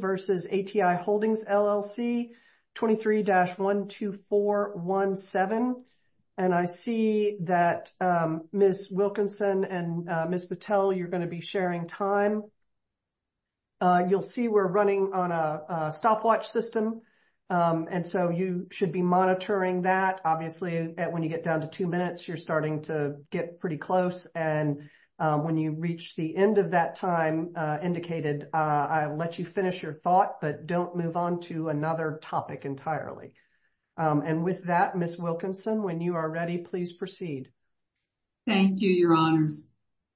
versus ATI Holdings LLC 23-12417. And I see that Ms. Wilkinson and Ms. Patel, you're going to be sharing time. You'll see we're running on a stopwatch system. And so you should be monitoring that. Obviously, when you get down to two minutes, you're starting to get pretty close. And when you reach the end of that time, indicated, I'll let you finish your thought, but don't move on to another topic entirely. And with that, Ms. Wilkinson, when you are ready, please proceed. Thank you, Your Honors.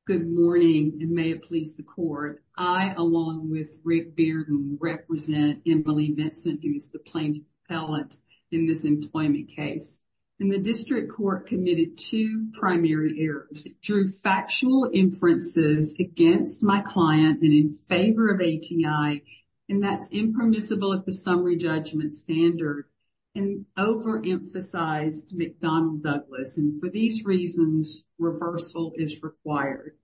Good morning, and may it please the Court. I, along with Rick Bearden, represent Emily Vincent, who is the plaintiff's appellant in this employment case. And the two primary errors, drew factual inferences against my client and in favor of ATI, and that's impermissible at the summary judgment standard, and overemphasized McDonnell Douglas. And for these reasons, reversal is required.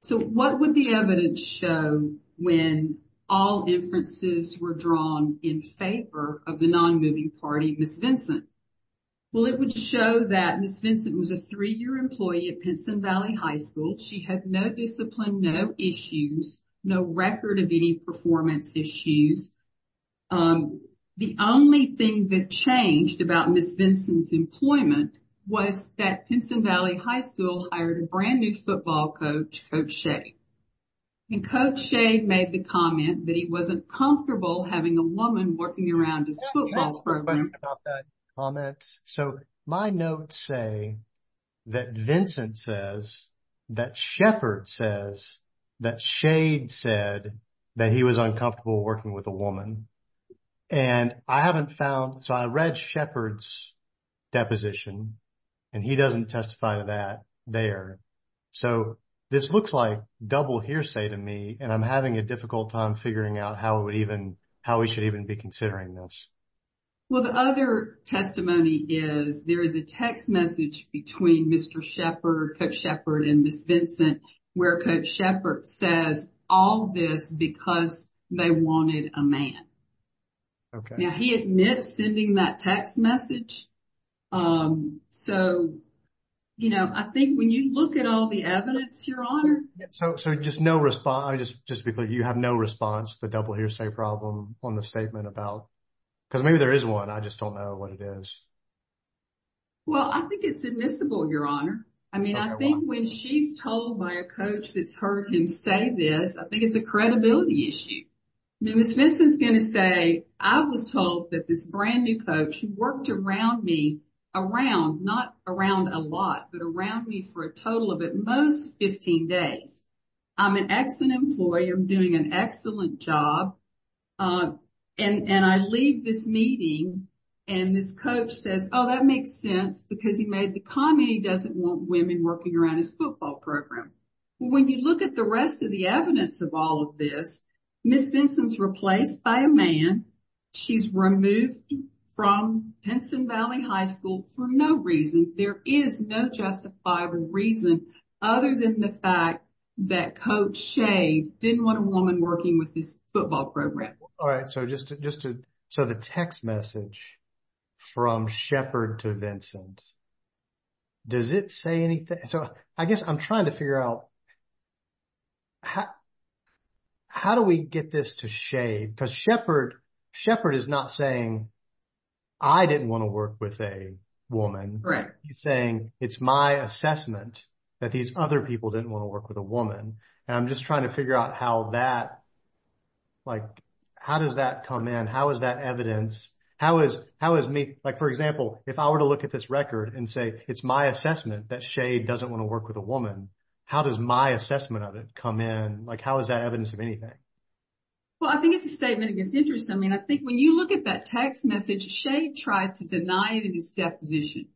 So what would the evidence show when all inferences were drawn in favor of the non-moving party, Ms. Vincent? Well, it would show that Ms. Vincent was a three-year employee at Pinson Valley High School. She had no discipline, no issues, no record of any performance issues. The only thing that changed about Ms. Vincent's employment was that Pinson Valley High School hired a brand new football coach, Coach Shea. And Coach Shea made the comment that he wasn't comfortable having a woman working around his football field. So my notes say that Vincent says, that Sheppard says, that Shea said that he was uncomfortable working with a woman. And I haven't found, so I read Sheppard's deposition, and he doesn't testify to that there. So this looks like double hearsay to me, and I'm having a difficult time figuring out how we should even be considering this. Well, the other testimony is there is a text message between Mr. Sheppard, Coach Sheppard, and Ms. Vincent, where Coach Sheppard says all this because they wanted a man. Now, he admits sending that text message. So I think when you look at all the evidence, Your Honor. So just to be clear, you have no response to the double hearsay problem on the statement about, because maybe there is one, I just don't know what it is. Well, I think it's admissible, Your Honor. I mean, I think when she's told by a coach that's heard him say this, I think it's a credibility issue. Ms. Vincent's going to say, I was told that this brand new coach worked around me, around, not around a lot, but around me for a 15 days. I'm an excellent employee. I'm doing an excellent job. And I leave this meeting, and this coach says, oh, that makes sense because he made the comment he doesn't want women working around his football program. Well, when you look at the rest of the evidence of all of this, Ms. Vincent's replaced by a man. She's removed from Pinson Valley High School for no reason. There is no justifiable reason other than the fact that Coach Shade didn't want a woman working with his football program. All right. So the text message from Shepard to Vincent, does it say anything? So I guess I'm trying to figure out how do we get this to Shade? Because Shepard is not saying, I didn't want to work with a woman. He's saying, it's my assessment that these other people didn't want to work with a woman. And I'm just trying to figure out how that, like, how does that come in? How is that evidence? How is me, like, for example, if I were to look at this record and say, it's my assessment that Shade doesn't want to work with a woman, how does my assessment of it come in? Like, how is that evidence of anything? Well, I think it's a statement against interest. I mean, I think when you look at that text message, Shade tried to deny it in his position.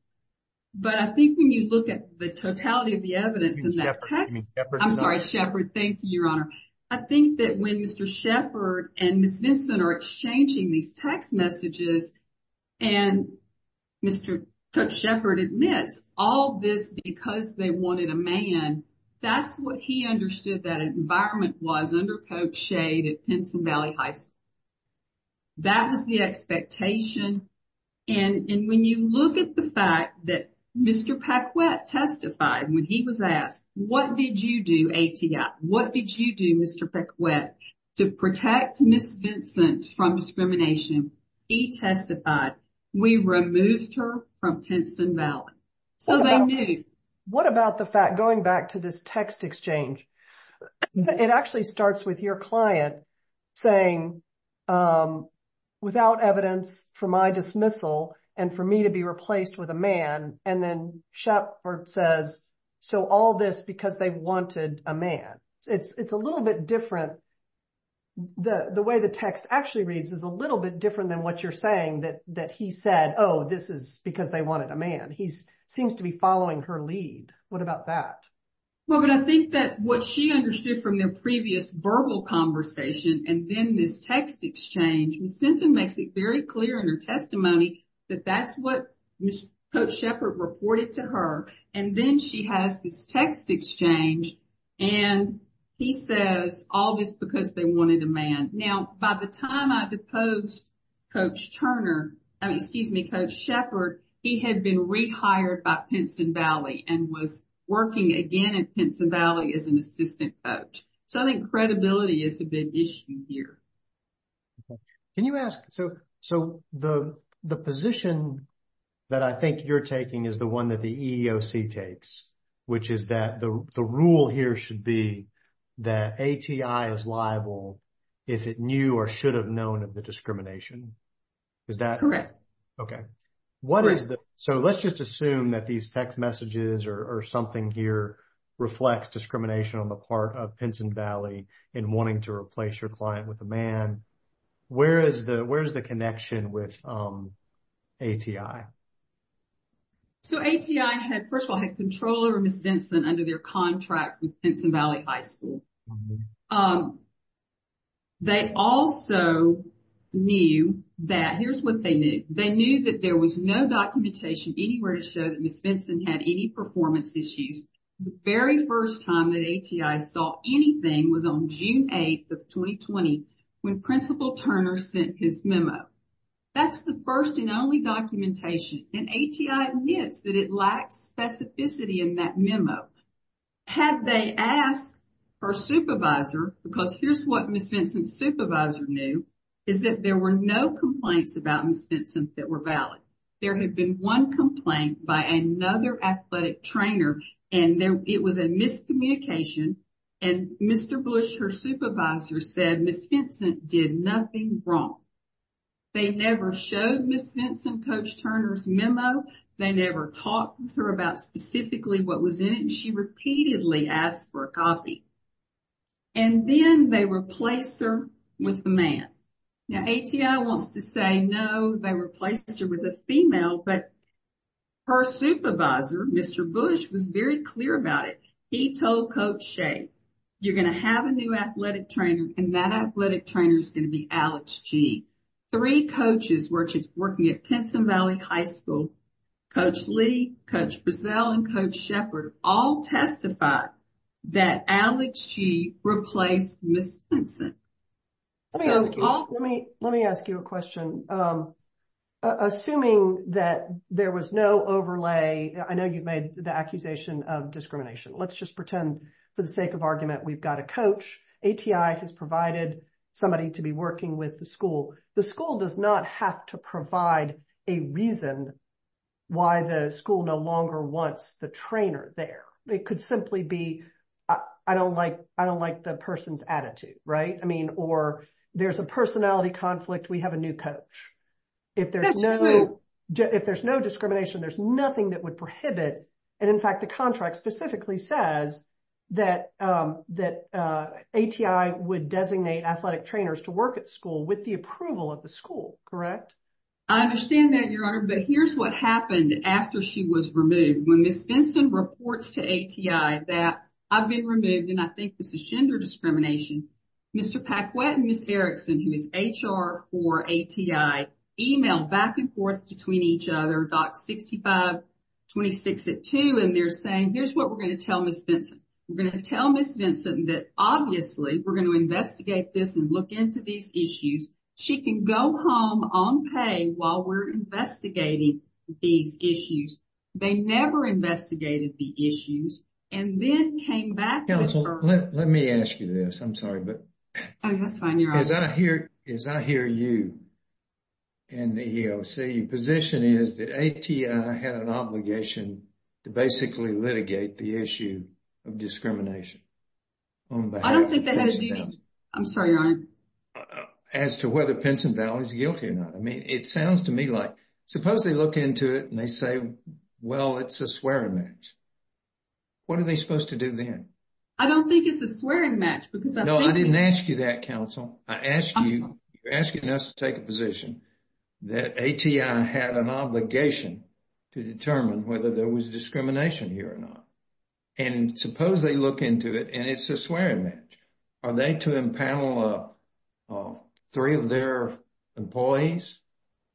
But I think when you look at the totality of the evidence in that text, I'm sorry, Shepard, thank you, Your Honor. I think that when Mr. Shepard and Ms. Vincent are exchanging these text messages and Mr. Coach Shepard admits all this because they wanted a man, that's what he understood that environment was under Coach Shade at Pensacola Valley High School. That was the expectation. And when you look at the fact that Mr. Paquette testified when he was asked, what did you do, ATI? What did you do, Mr. Paquette, to protect Ms. Vincent from discrimination? He testified, we removed her from Pensacola Valley. So they knew. What about the fact, going back to this text exchange, it actually starts with your client saying, without evidence for my dismissal and for me to be replaced with a man. And then Shepard says, so all this because they wanted a man. It's a little bit different. The way the text actually reads is a little bit different than what you're saying, that he said, oh, this is because they wanted a man. He seems to be following her lead. What about that? Well, but I think that what she understood from their previous verbal conversation and then this text exchange, Ms. Vincent makes it very clear in her testimony that that's what Coach Shepard reported to her. And then she has this text exchange and he says, all this because they wanted a man. Now, by the time I deposed Coach Turner, excuse me, Coach Shepard, he had been rehired by Pinson Valley and was working again at Pinson Valley as an assistant coach. So I think credibility is a big issue here. Okay. Can you ask, so the position that I think you're taking is the one that the EEOC takes, which is that the rule here should be that ATI is liable if it knew or should have known of the discrimination. Is that- Correct. Okay. What is the, so let's just assume that these text messages or something here reflects discrimination on the part of Pinson Valley in wanting to replace your client with a man. Where is the connection with ATI? So ATI had, first of all, had control over Ms. Vincent under their contract with Pinson was no documentation anywhere to show that Ms. Vincent had any performance issues. The very first time that ATI saw anything was on June 8th of 2020 when Principal Turner sent his memo. That's the first and only documentation. And ATI admits that it lacks specificity in that memo. Had they asked her supervisor, because here's what Ms. Vincent's supervisor knew, is that there were no complaints about Ms. Vincent that were valid. There had been one complaint by another athletic trainer and it was a miscommunication. And Mr. Bush, her supervisor, said Ms. Vincent did nothing wrong. They never showed Ms. Vincent Coach Turner's memo. They never talked to her about specifically what was in it. And she repeatedly asked for a copy. And then they replaced her with a man. Now ATI wants to say no, they replaced her with a female. But her supervisor, Mr. Bush, was very clear about it. He told Coach Shea, you're going to have a new athletic trainer and that athletic trainer is going to be Alex G. Three coaches working at Pinson Valley High School, Coach Lee, Coach Brazil, and Coach Shepard, all testified that Alex G replaced Ms. Vincent. Let me ask you a question. Assuming that there was no overlay, I know you've made the accusation of discrimination. Let's just pretend for the sake of argument, we've got a coach. ATI has provided somebody to be working with the school. The school does not have to provide a reason why the school no longer wants the trainer there. It could simply be, I don't like the person's attitude. Or there's a personality conflict, we have a new coach. If there's no discrimination, there's nothing that would prohibit. And in fact, the contract specifically says that ATI would designate athletic trainers to work at school with the approval of the school, correct? I understand that, Your Honor, but here's what happened after she was removed. When Ms. Vincent reports to ATI that I've been removed and I think this is gender discrimination, Mr. Paquette and Ms. Erickson, who is HR for ATI, emailed back and forth between each other, Doc 6526 at two, and they're saying, here's what we're going to tell Ms. Vincent. We're going to tell Ms. Vincent that obviously, we're going to investigate this and look into these issues. She can go home on pay while we're investigating these issues. They never investigated the issues and then came back with her- Counsel, let me ask you this. I'm sorry, but- Oh, that's fine, Your Honor. As I hear you in the EEOC, your position is that ATI had an obligation to basically litigate the issue of discrimination on behalf of- I don't think that has anything- I'm sorry, Your Honor. As to whether Pinson Valley is guilty or not. I mean, it sounds to me like, suppose they look into it and they say, well, it's a swearing match. What are they supposed to do then? I don't think it's a swearing match because- No, I didn't ask you that, Counsel. I asked you- I'm sorry. You're asking us to take a position that ATI had an obligation to determine whether there was discrimination here or not. And suppose they look into it and it's a swearing match. Are they to impanel three of their employees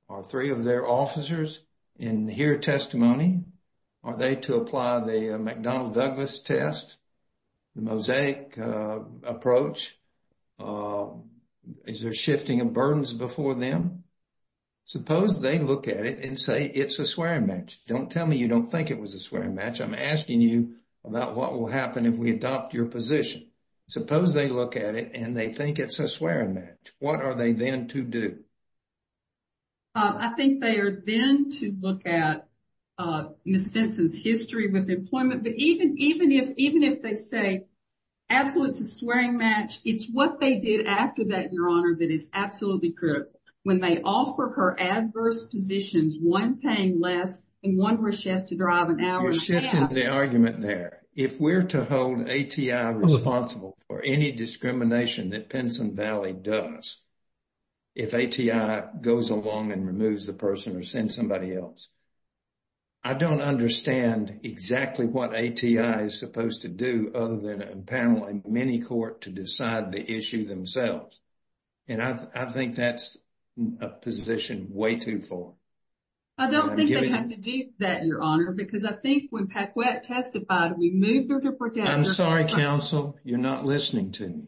or three of their officers and hear testimony? Are they to apply the McDonnell Douglas test, the mosaic approach? Is there shifting of burdens before them? Suppose they look at it and say, it's a swearing match. Don't tell me you don't think it was a swearing match. I'm asking you about what will happen if we adopt your position. Suppose they look at it and they think it's a swearing match. What are they then to do? I think they are then to look at Ms. Pinson's history with employment. But even if they say, absolutely, it's a swearing match, it's what they did after that, Your Honor, that is absolutely critical. When they offer her adverse positions, one paying less and one where she has to drive an hour and a half. You're shifting the argument there. If we're to hold ATI responsible for any discrimination that Pinson Valley does, if ATI goes along and removes the person or send somebody else, I don't understand exactly what ATI is supposed to do other than impanel in many court to decide the issue themselves. And I think that's a position way too far. I don't think they have to do that, Your Honor, because I think when Paquette testified, we moved her to protect her. I'm sorry, counsel, you're not listening to me.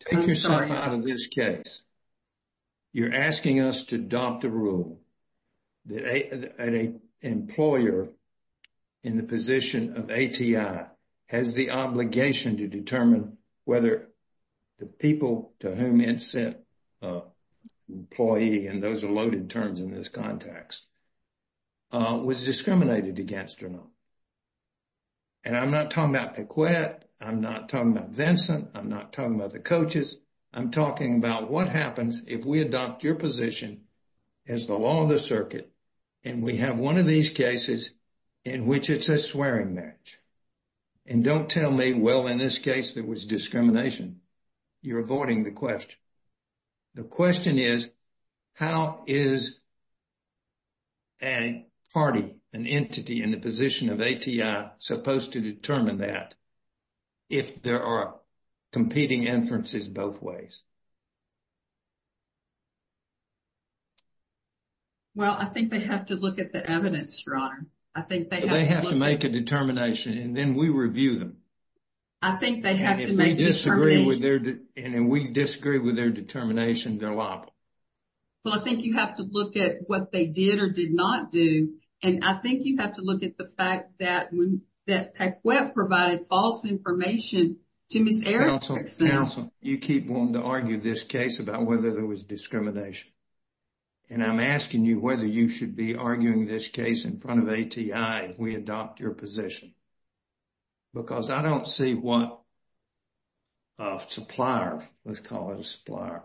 Take yourself out of this case. You're asking us to adopt a rule that an employer in the position of ATI has the obligation to determine whether the people to whom it sent employee, and those are loaded terms in this context, was discriminated against or not. And I'm not talking about Paquette. I'm not talking about Vincent. I'm not talking about the coaches. I'm talking about what happens if we adopt your position as the law of the circuit. And we have one of these cases in which it's a swearing match. And don't tell me, well, in this case, there was discrimination. You're avoiding the question. The question is, how is a party, an entity in the position of ATI supposed to determine that if there are competing inferences both ways? Well, I think they have to look at the evidence, Your Honor. I think they have to make a determination and then we review them. I think they have to make a determination. If they disagree with their, and we disagree with their determination, they're liable. Well, I think you have to look at what they did or did not do. And I think you have to look at the fact that Paquette provided false information to Ms. Erickson. Counsel, you keep wanting to argue this case about whether there was discrimination. And I'm asking you whether you should be arguing this case in front of ATI if we adopt your position. Because I don't see what a supplier, let's call it a supplier,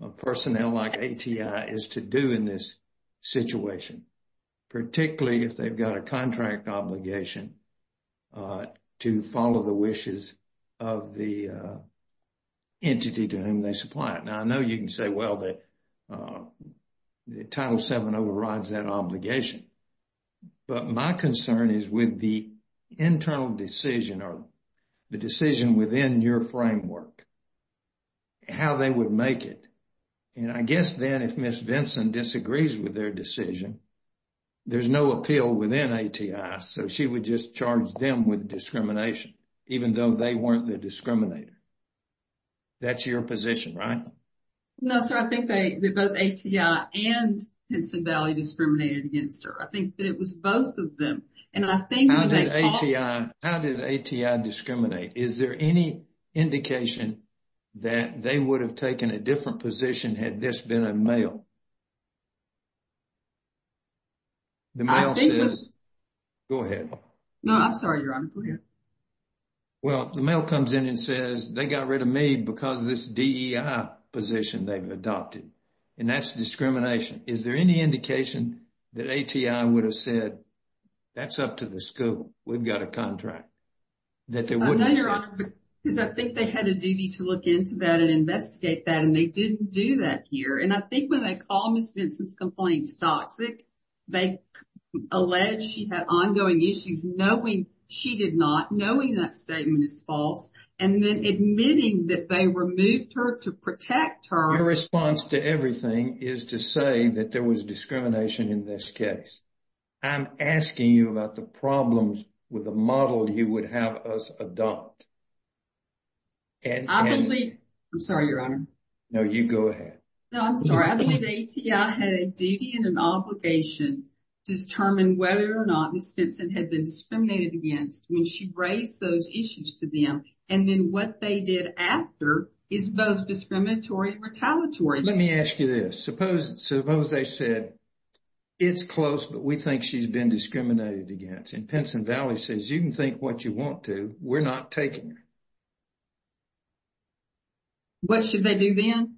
a personnel like ATI is to do in this situation, particularly if they've got a contract obligation to follow the wishes of the entity to whom they supply it. Now, I know you can say, well, the Title VII overrides that obligation. But my concern is with the internal decision or the decision within your framework, and how they would make it. And I guess then if Ms. Vinson disagrees with their decision, there's no appeal within ATI. So, she would just charge them with discrimination, even though they weren't the discriminator. That's your position, right? No, sir. I think they, both ATI and Pennsylvania discriminated against her. I think that it was both of them. And I think that they all- How did ATI discriminate? Is there any indication that they would have taken a different position had this been a male? The male says- I think that's- Go ahead. No, I'm sorry, Your Honor. Go ahead. Well, the male comes in and says, they got rid of me because this DEI position they've adopted. And that's discrimination. Is there any indication that ATI would have said, that's up to the school, we've got a contract, that they wouldn't- I know, Your Honor, because I think they had a duty to look into that and investigate that, and they didn't do that here. And I think when they call Ms. Vinson's complaints toxic, they allege she had ongoing issues knowing she did not, knowing that statement is false, and then admitting that they removed her to protect her. Your response to everything is to say that there was discrimination in this case. I'm asking you about the problems with the model you would have us adopt. I believe- I'm sorry, Your Honor. No, you go ahead. No, I'm sorry. I believe ATI had a duty and an obligation to determine whether or not Ms. Vinson had been discriminated against when she raised those issues to them. And then what they did after is both discriminatory and retaliatory. Let me ask you this. Suppose they said, it's close, but we think she's been discriminated against. And Pinson Valley says, you can think what you want to, we're not taking her. What should they do then?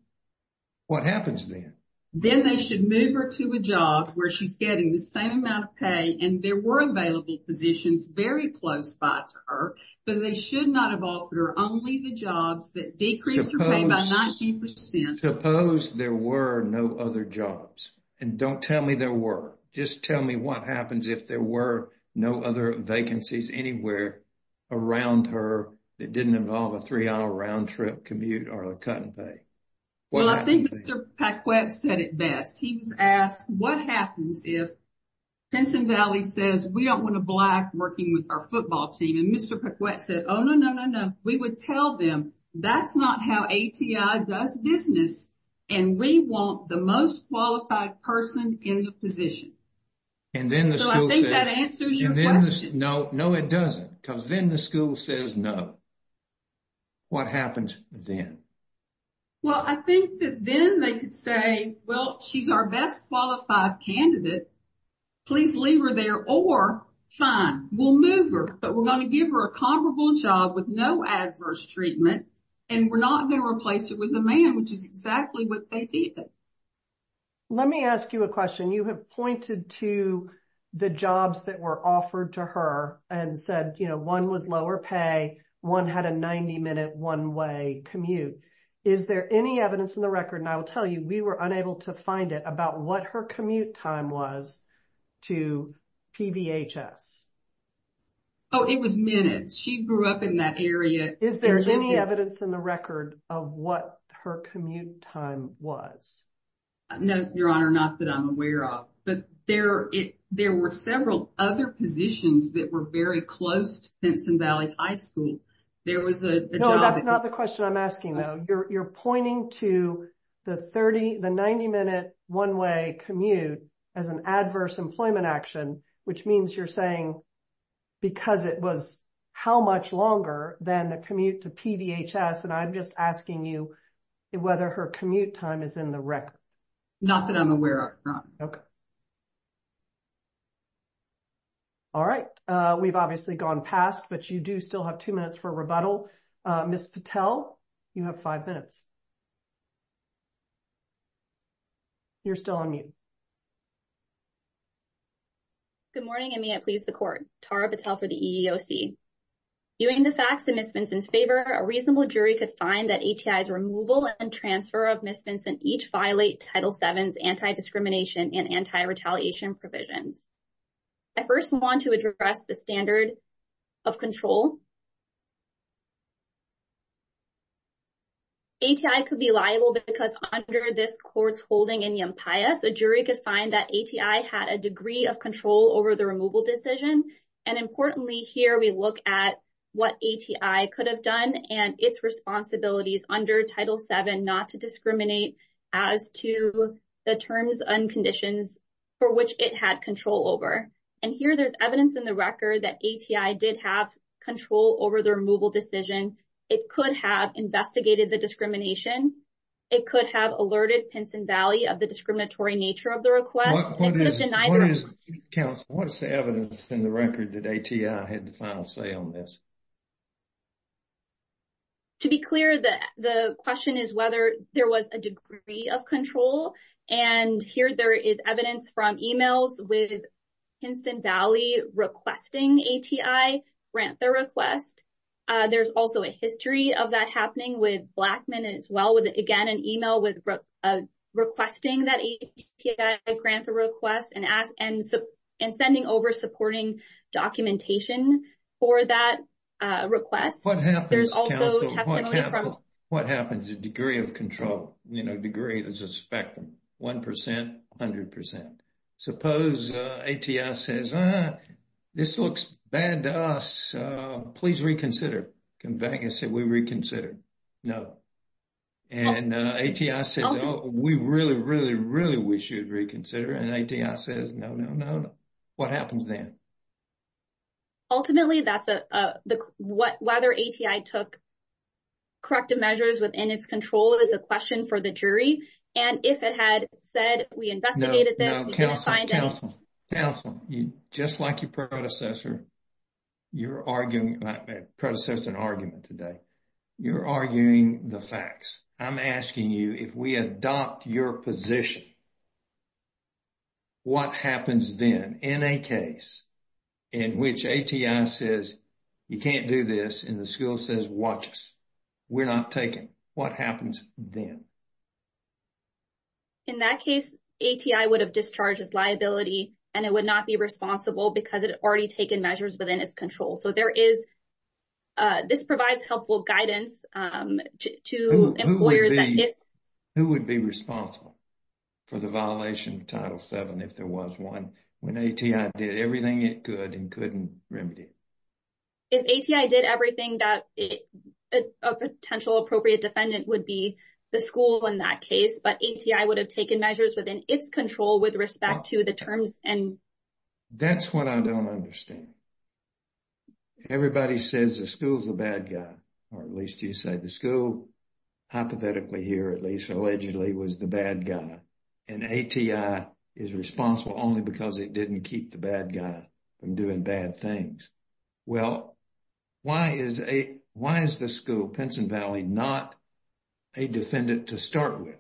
What happens then? Then they should move her to a job where she's getting the same amount of pay, and there were available positions very close by to her, but they should not have offered her only the jobs that decreased her pay by 19%. Suppose there were no other jobs. And don't tell me there were. Just tell me what happens if there were no other vacancies anywhere around her that didn't involve a three-hour round-trip commute or a cut in pay. Well, I think Mr. Paquette said it best. He was asked, what happens if Pinson Valley says, we don't want a black working with our football team? And Mr. Paquette said, oh, no, no, no, no. We would tell them that's not how ATI does business. And we want the most qualified person in the position. And then the school says- So I think that answers your question. No, no, it doesn't. Because then the school says no. What happens then? Well, I think that then they could say, well, she's our best qualified candidate. Please leave her there or fine, we'll move her. But we're going to give her a comparable job with no adverse treatment. And we're not going to replace her with a man, which is exactly what they did. Let me ask you a question. You have pointed to the jobs that were offered to her and said, one was lower pay, one had a 90 minute one way commute. Is there any evidence in the record? And I will tell you, we were unable to find it about what her commute time was to PVHS. Oh, it was minutes. She grew up in that area. Is there any evidence in the record of what her commute time was? No, Your Honor, not that I'm aware of. But there were several other positions that were very close to Benson Valley High School. There was a job... No, that's not the question I'm asking though. You're pointing to the 90 minute one way commute as an adverse employment action, which means you're saying because it was how much longer than the commute to PVHS. And I'm just asking you whether her commute time is in the record. Not that I'm aware of, Your Honor. Okay. All right. We've obviously gone past, but you do still have two minutes for rebuttal. Ms. Patel, you have five minutes. You're still on mute. Good morning, and may it please the court. Tara Patel for the EEOC. Viewing the facts in Ms. Benson's favor, a reasonable jury could find that ATI's removal and transfer of Ms. Benson each violate Title VII's anti-discrimination and anti-retaliation provisions. I first want to address the standard of control. ATI could be liable because under this court's holding in Yampias, a jury could find that ATI had a degree of control over the removal decision. And importantly, here we look at what ATI could have done and its responsibilities under Title VII not to discriminate as to the terms and conditions for which it had control over. And here there's evidence in the record that ATI did have control over the removal decision. It could have investigated the discrimination. It could have alerted Pinson Valley of the discriminatory nature of the request. What is the evidence in the record that ATI had the final say on this? To be clear, the question is whether there was a degree of control. And here there is evidence from emails with Pinson Valley requesting ATI grant the request. There's also a history of that happening with Blackman as well with, again, an email with requesting that ATI grant the request and sending over supporting documentation for that request. What happens, counsel? What happens to degree of control? You know, degree is a spectrum, 1 percent, 100 percent. Suppose ATI says, this looks bad to us. Please reconsider. Can Vegas say we reconsider? No. And ATI says, we really, really, really wish you'd reconsider. And ATI says, no, no, no. What happens then? Ultimately, that's a, the, whether ATI took corrective measures within its control is a question for the jury. And if it had said, we investigated this, we couldn't find any. No, no, counsel, counsel, counsel. You, just like your predecessor, you're arguing, predecessor's an argument today. You're arguing the facts. I'm asking you, if we adopt your position, what happens then? In a case in which ATI says, you can't do this, and the school says, watch us, we're not taking, what happens then? In that case, ATI would have discharged its liability, and it would not be responsible because it had already taken measures within its control. So, there is, this provides helpful guidance to employers that if. Who would be responsible for the violation of Title VII if there was one, when ATI did everything it could and couldn't remedy it? If ATI did everything that a potential appropriate defendant would be the school in that case, but ATI would have taken measures within its control with respect to the terms and. That's what I don't understand. Everybody says the school's a bad guy, or at least you say the school, hypothetically here at least, allegedly was the bad guy. And ATI is responsible only because it didn't keep the bad guy from doing bad things. Well, why is the school, Pinson Valley, not a defendant to start with?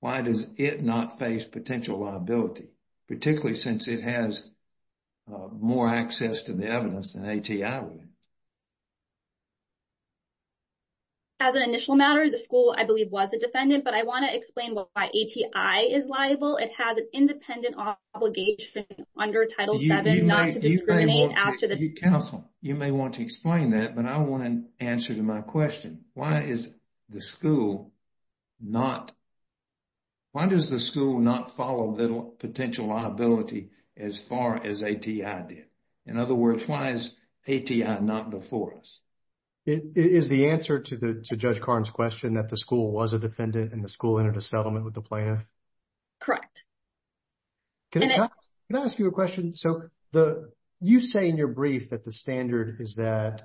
Why does it not face potential liability, particularly since it has more access to the evidence than ATI would? As an initial matter, the school, I believe, was a defendant, but I want to explain why ATI is liable. It has an independent obligation under Title VII not to discriminate. You may want to explain that, but I want an answer to my question. Why is the school not, why does the school not follow the potential liability as far as ATI did? In other words, why is ATI not before us? It is the answer to Judge Karn's question that the school was a defendant and the school entered a settlement with the plaintiff? Correct. Can I ask you a question? So, you say in your brief that the standard is that,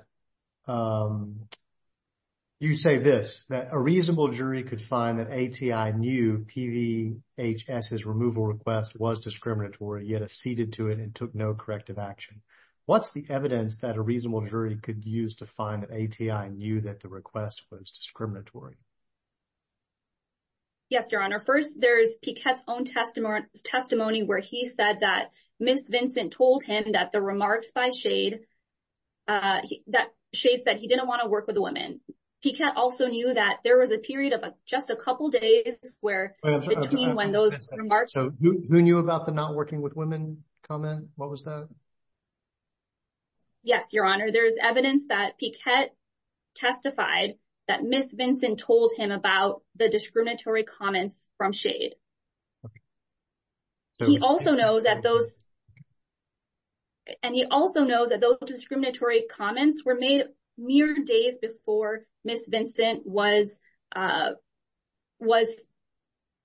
you say this, that a reasonable jury could find that ATI knew PVHS's removal request was discriminatory, yet acceded to it and took no corrective action. What's the evidence that a reasonable jury could use to find that ATI knew that the request was discriminatory? Yes, Your Honor. First, there's Piquette's own testimony where he said that Ms. Vincent told him that the remarks by Shade, that Shade said he didn't want to work with a woman. Piquette also knew that there was a period of just a couple of days where, between when those remarks... So, who knew about the not working with women comment? What was that? Yes, Your Honor. There's evidence that Piquette testified that Ms. Vincent told him about the discriminatory comments from Shade. He also knows that those, and he also knows that those discriminatory comments were made mere days before Ms. Vincent was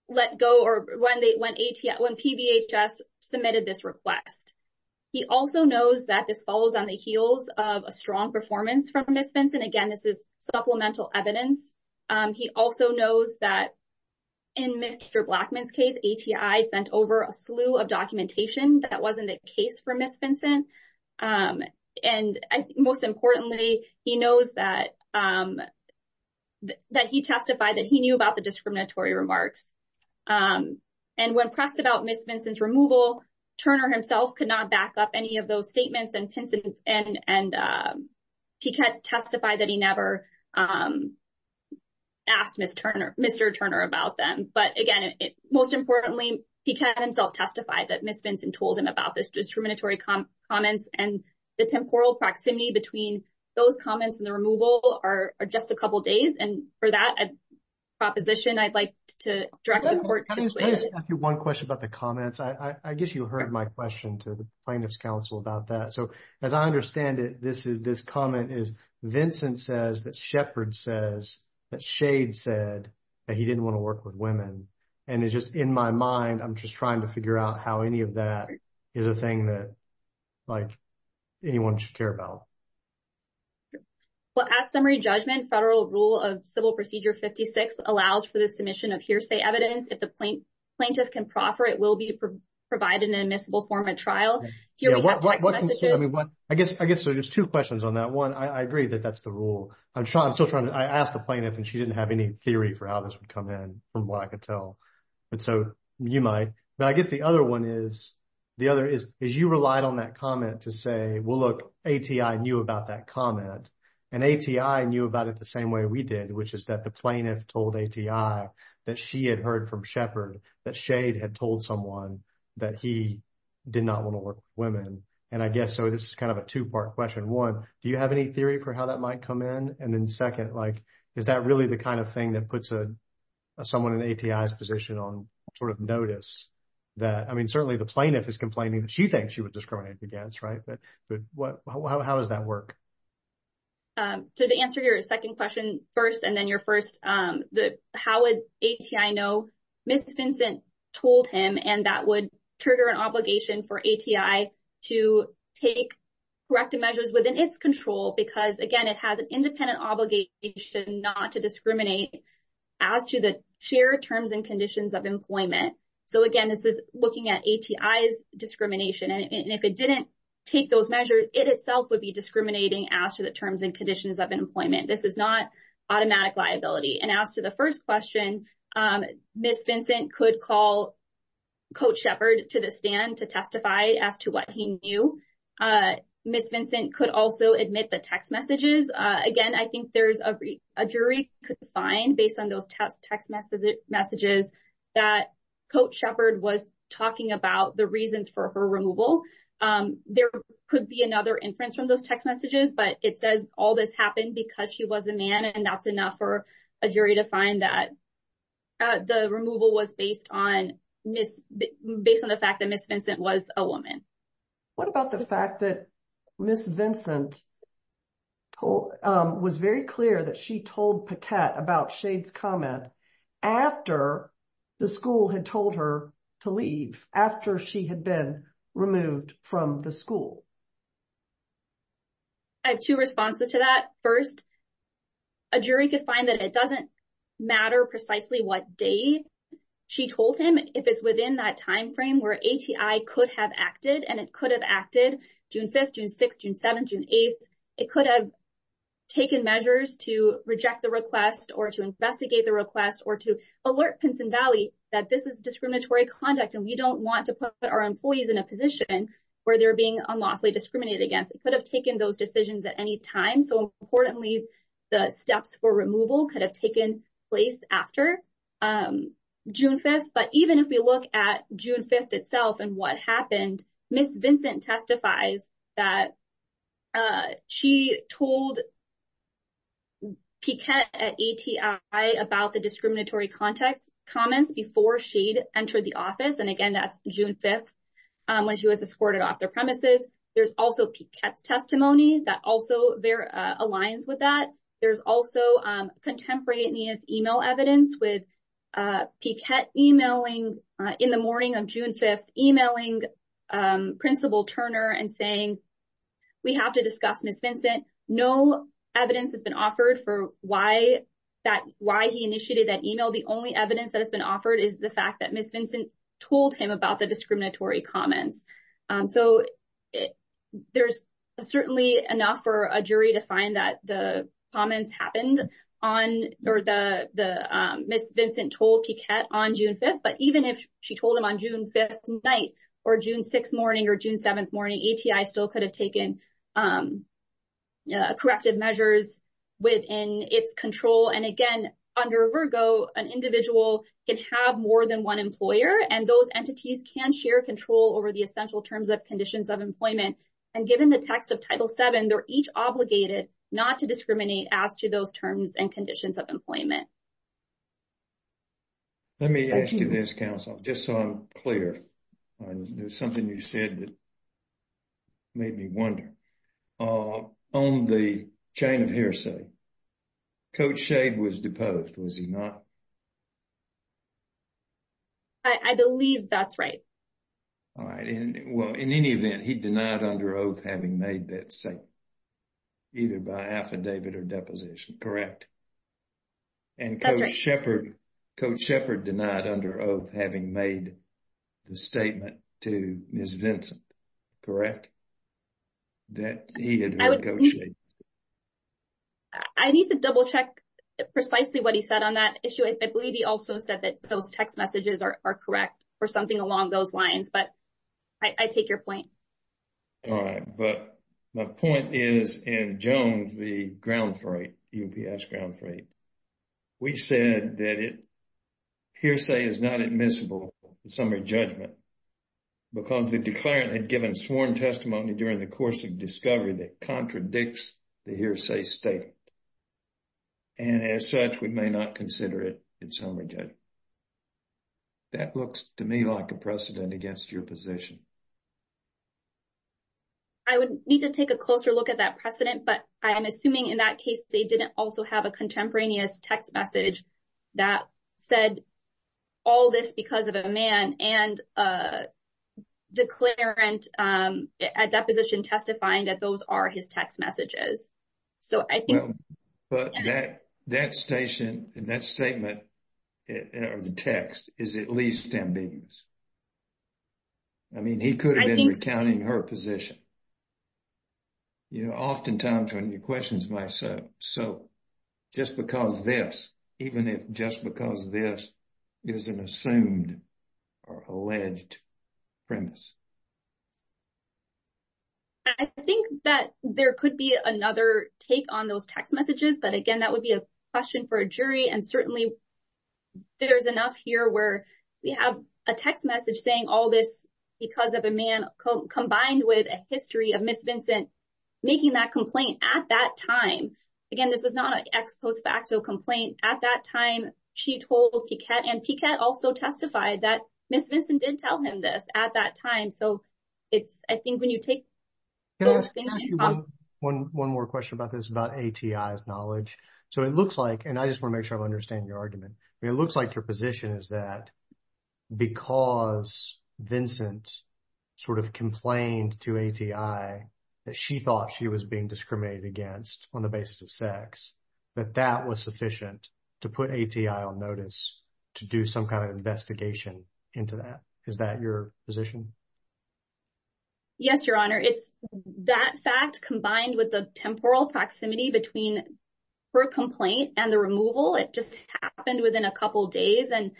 let go or when PVHS submitted this request. He also knows that this follows on the heels of a strong performance from Ms. Vincent. Again, this is supplemental evidence. He also knows that in Mr. Blackman's case, ATI sent over a slew of documentation that wasn't the case for Ms. Vincent. And most importantly, he knows that he testified that he knew about the discriminatory remarks. And when pressed about Ms. Vincent's removal, Turner himself could not back up any of those statements and Piquette testified that he never asked Mr. Turner about them. But again, most importantly, Piquette himself testified that Ms. Vincent told him about this discriminatory comments and the temporal proximity between those comments and the removal are just a couple of days. And for that proposition, I'd like to direct the court to- Let me just ask you one question about the comments. I guess you heard my question to the plaintiff's counsel about that. So, as I understand it, this comment is Vincent says that Shepard says that Shade said that he didn't want to work with women. And it's just in my mind, I'm just trying to figure out how any of that is a thing that anyone should care about. Well, at summary judgment, federal rule of Civil Procedure 56 allows for the submission of hearsay evidence. If the plaintiff can proffer, it will be provided in admissible form at trial. I guess there's two questions on that. One, I agree that that's the rule. I'm still trying to... I asked the plaintiff and she didn't have any theory for how this would come in from what I could tell. And so you might, but I guess the other one is you relied on that comment to say, well, look, ATI knew about that comment and ATI knew about it the same way we did, which is that the plaintiff told ATI that she had heard from Shepard that Shade had told someone that he did not want to work with women. And I guess, so this is kind of a two-part question. One, do you have any theory for how that might come in? And then like, is that really the kind of thing that puts someone in ATI's position on sort of notice that, I mean, certainly the plaintiff is complaining that she thinks she was discriminated against, right? But how does that work? So to answer your second question first, and then your first, how would ATI know? Ms. Vincent told him, and that would trigger an obligation for ATI to take corrective measures within its control because again, it has an independent obligation not to discriminate as to the shared terms and conditions of employment. So again, this is looking at ATI's discrimination. And if it didn't take those measures, it itself would be discriminating as to the terms and conditions of employment. This is not automatic liability. And as to the first question, Ms. Vincent could call Coach Shepard to the stand to testify as to what he knew. Ms. Vincent could also admit the text messages. Again, I think there's a jury could find based on those text messages that Coach Shepard was talking about the reasons for her removal. There could be another inference from those text messages, but it says all this happened because she was a man. And that's enough for a jury to find that the removal was based on the fact that Ms. Vincent was a woman. What about the fact that Ms. Vincent was very clear that she told Paquette about Shade's comment after the school had told her to leave, after she had been removed from the school? I have two responses to that. First, a jury could find that it doesn't matter precisely what day she told him if it's within that timeframe where ATI could have acted. And it could have acted June 5th, June 6th, June 7th, June 8th. It could have taken measures to reject the request or to investigate the request or to alert Pinson Valley that this is discriminatory conduct and we don't want to put our employees in a position where they're being unlawfully discriminated against. It could have taken those decisions at any time. So importantly, the steps for removal could have placed after June 5th. But even if we look at June 5th itself and what happened, Ms. Vincent testifies that she told Paquette at ATI about the discriminatory comments before Shade entered the office. And again, that's June 5th when she was escorted off their premises. There's also Paquette's testimony that also aligns with that. There's also contemporaneous email evidence with Paquette emailing in the morning of June 5th, emailing Principal Turner and saying, we have to discuss Ms. Vincent. No evidence has been offered for why he initiated that email. The only evidence that has been offered is the fact that Ms. Vincent told him about the discriminatory comments. So there's certainly enough for a jury to find that the comments happened or Ms. Vincent told Paquette on June 5th. But even if she told him on June 5th night or June 6th morning or June 7th morning, ATI still could have taken corrective measures within its control. And again, under Virgo, an individual can have more than one and those entities can share control over the essential terms of conditions of employment. And given the text of Title VII, they're each obligated not to discriminate as to those terms and conditions of employment. Let me ask you this, counsel, just so I'm clear. There's something you said that made me wonder. On the chain of hearsay, Coach Shade was deposed, was he not? I believe that's right. All right. Well, in any event, he denied under oath having made that statement either by affidavit or deposition, correct? And Coach Shepard denied under oath having made the statement to Ms. Vincent, correct? That he had heard Coach Shade. I need to double check precisely what he said on that issue. I or something along those lines, but I take your point. All right. But my point is in Jones, the ground freight, UPS ground freight, we said that hearsay is not admissible in summary judgment because the declarant had given sworn testimony during the course of discovery that contradicts the hearsay statement. And as such, we may not consider it in summary judgment. That looks to me like a precedent against your position. I would need to take a closer look at that precedent. But I am assuming in that case, they didn't also have a contemporaneous text message that said all this because of a man and declarant at deposition testifying that those are his text messages. So I think... But that station and that statement or the text is at least ambiguous. I mean, he could have been recounting her position. You know, oftentimes when you question myself, so just because this, even if just because this is an assumed or alleged premise. I think that there could be another take on those text messages. But again, that would be a question for a jury. And certainly, there's enough here where we have a text message saying all this because of a man combined with a history of Ms. Vincent making that complaint at that time. Again, this is not an ex post facto complaint. At that time, she told Piquette and Piquette also testified that Ms. Vincent did tell him this at that time. So it's, I think when you take... Can I ask you one more question about this, about ATI's knowledge? So it looks like, and I just want to make sure I understand your argument. It looks like your position is that because Vincent sort of complained to ATI that she thought she was being discriminated against on the basis of sex, that that was sufficient to put ATI on notice to do some kind of investigation into that. Is that your position? Yes, Your Honor. It's that fact combined with the temporal proximity between her complaint and the removal. It just happened within a couple of days. And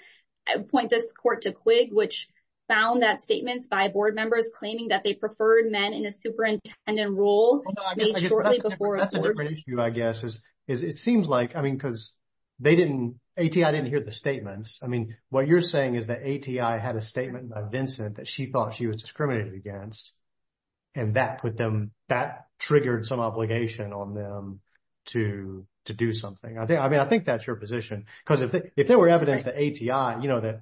I would point this court to Quigg, which found that statements by board members claiming that they preferred men in a superintendent role made shortly before... That's a different issue, I guess, is it seems like, I mean, because ATI didn't hear the statements. I mean, what you're saying is that ATI had a statement by Vincent that she thought she was discriminated against, and that triggered some obligation on them to do something. I mean, I think that's your position. Because if there were evidence that ATI,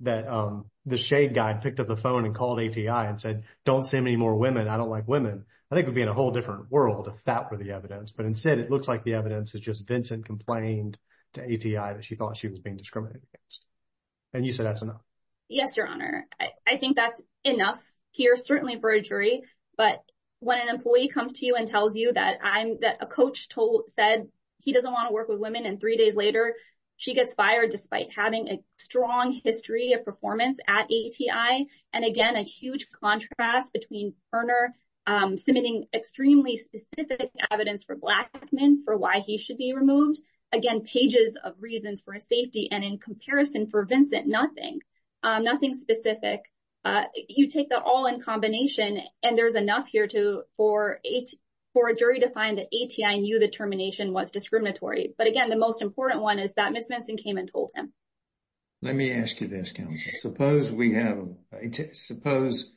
that the shade guy picked up the phone and called ATI and said, don't send me more women, I don't like women. I think it'd be in a whole different world if that were the evidence. But instead, it looks like the evidence is just Vincent complained to ATI that she thought she was being discriminated against. And you said that's enough. Yes, Your Honor. I think that's enough here, certainly for a jury. But when an employee comes to you and tells you that a coach said he doesn't want to work with women, and three days later, she gets fired despite having a strong history of performance at ATI. And again, a huge contrast between Berner submitting extremely specific evidence for Blackman for why he should be removed. Again, pages of reasons for safety, and in comparison for Vincent, nothing, nothing specific. You take that all in combination, and there's enough here for a jury to find that ATI knew the termination was discriminatory. But again, the most important one is that Ms. Vinson came and told him. Let me ask you this, counsel. Suppose we have, suppose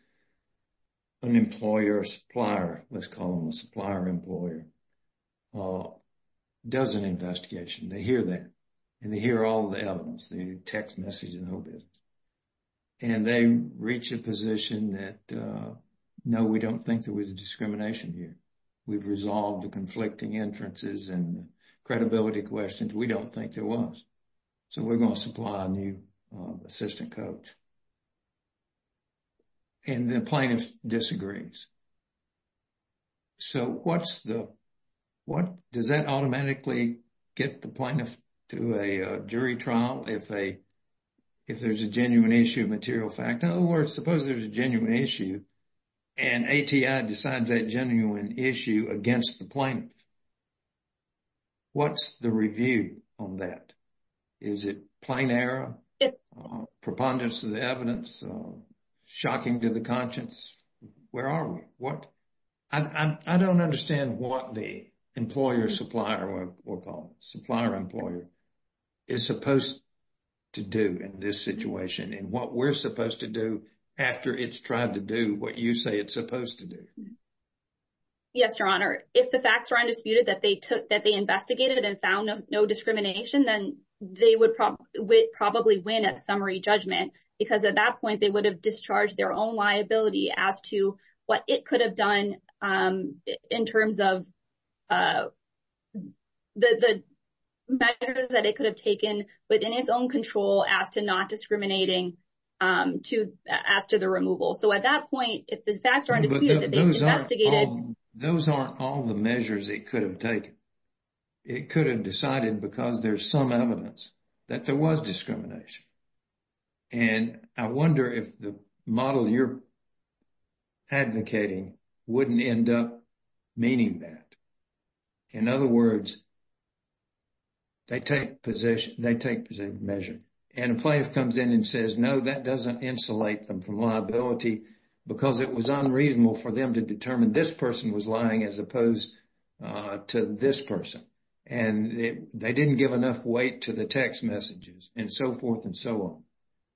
an employer or supplier, let's call them a supplier-employer, does an investigation. They hear that, and they hear all the evidence, the text message and all this. And they reach a position that, no, we don't think there was a discrimination here. We've resolved the conflicting inferences and credibility questions. We don't think there was. So, we're going to supply a new assistant coach. And the plaintiff disagrees. So, what's the, what, does that automatically get the plaintiff to a jury trial if there's a genuine issue of material fact? In other words, suppose there's a genuine issue, and ATI decides that genuine issue against the plaintiff. What's the review on that? Is it plain error? Preponderance of the evidence? Shocking to the conscience? Where are we? What? I don't understand what the employer-supplier, we'll call them, supplier-employer is supposed to do in this situation and what we're supposed to do after it's tried to do what you say it's supposed to do. Yes, Your Honor. If the facts are undisputed that they took, that they investigated and found no discrimination, then they would probably win at summary judgment. Because at that point, they would have discharged their own liability as to what it could have done in terms of the measures that it could have taken within its own control as to not discriminating to, as to the removal. So, at that point, if the facts are undisputed that they investigated. Those aren't all the measures it could have taken. It could have decided because there's some evidence that there was discrimination. And I wonder if the model you're advocating wouldn't end up meaning that. In other words, they take position, they take position, measure. And a plaintiff comes in and says, no, that doesn't insulate them from liability because it was unreasonable for them to determine this person was lying as opposed to this person. And they didn't give enough weight to the text messages and so forth and so on.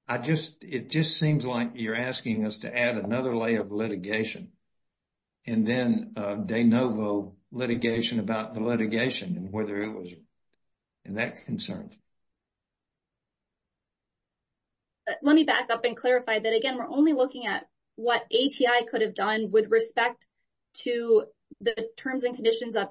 I just, it just seems like you're asking us to add another layer of litigation. And then de novo litigation about the litigation and whether it was, and that concerns me. But let me back up and clarify that, again, we're only looking at what ATI could have done with respect to the terms and conditions of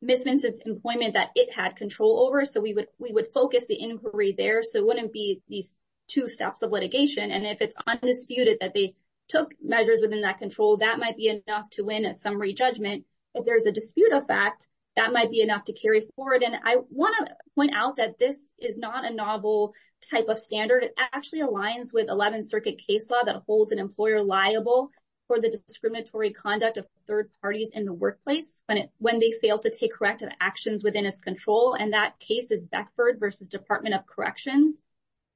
Ms. Vincent's employment that it had control over. So, we would focus the inquiry there. So, it wouldn't be these two steps of litigation. And if it's undisputed that they took measures within that control, that might be enough to win at summary judgment. If there's a dispute of fact, that might be enough to carry forward. And I want to point out that this is not a novel type of standard. It actually aligns with 11th Circuit case law that holds an employer liable for the discriminatory conduct of third parties in the workplace when they fail to take corrective actions within its control. And that case is Beckford versus Department of Corrections,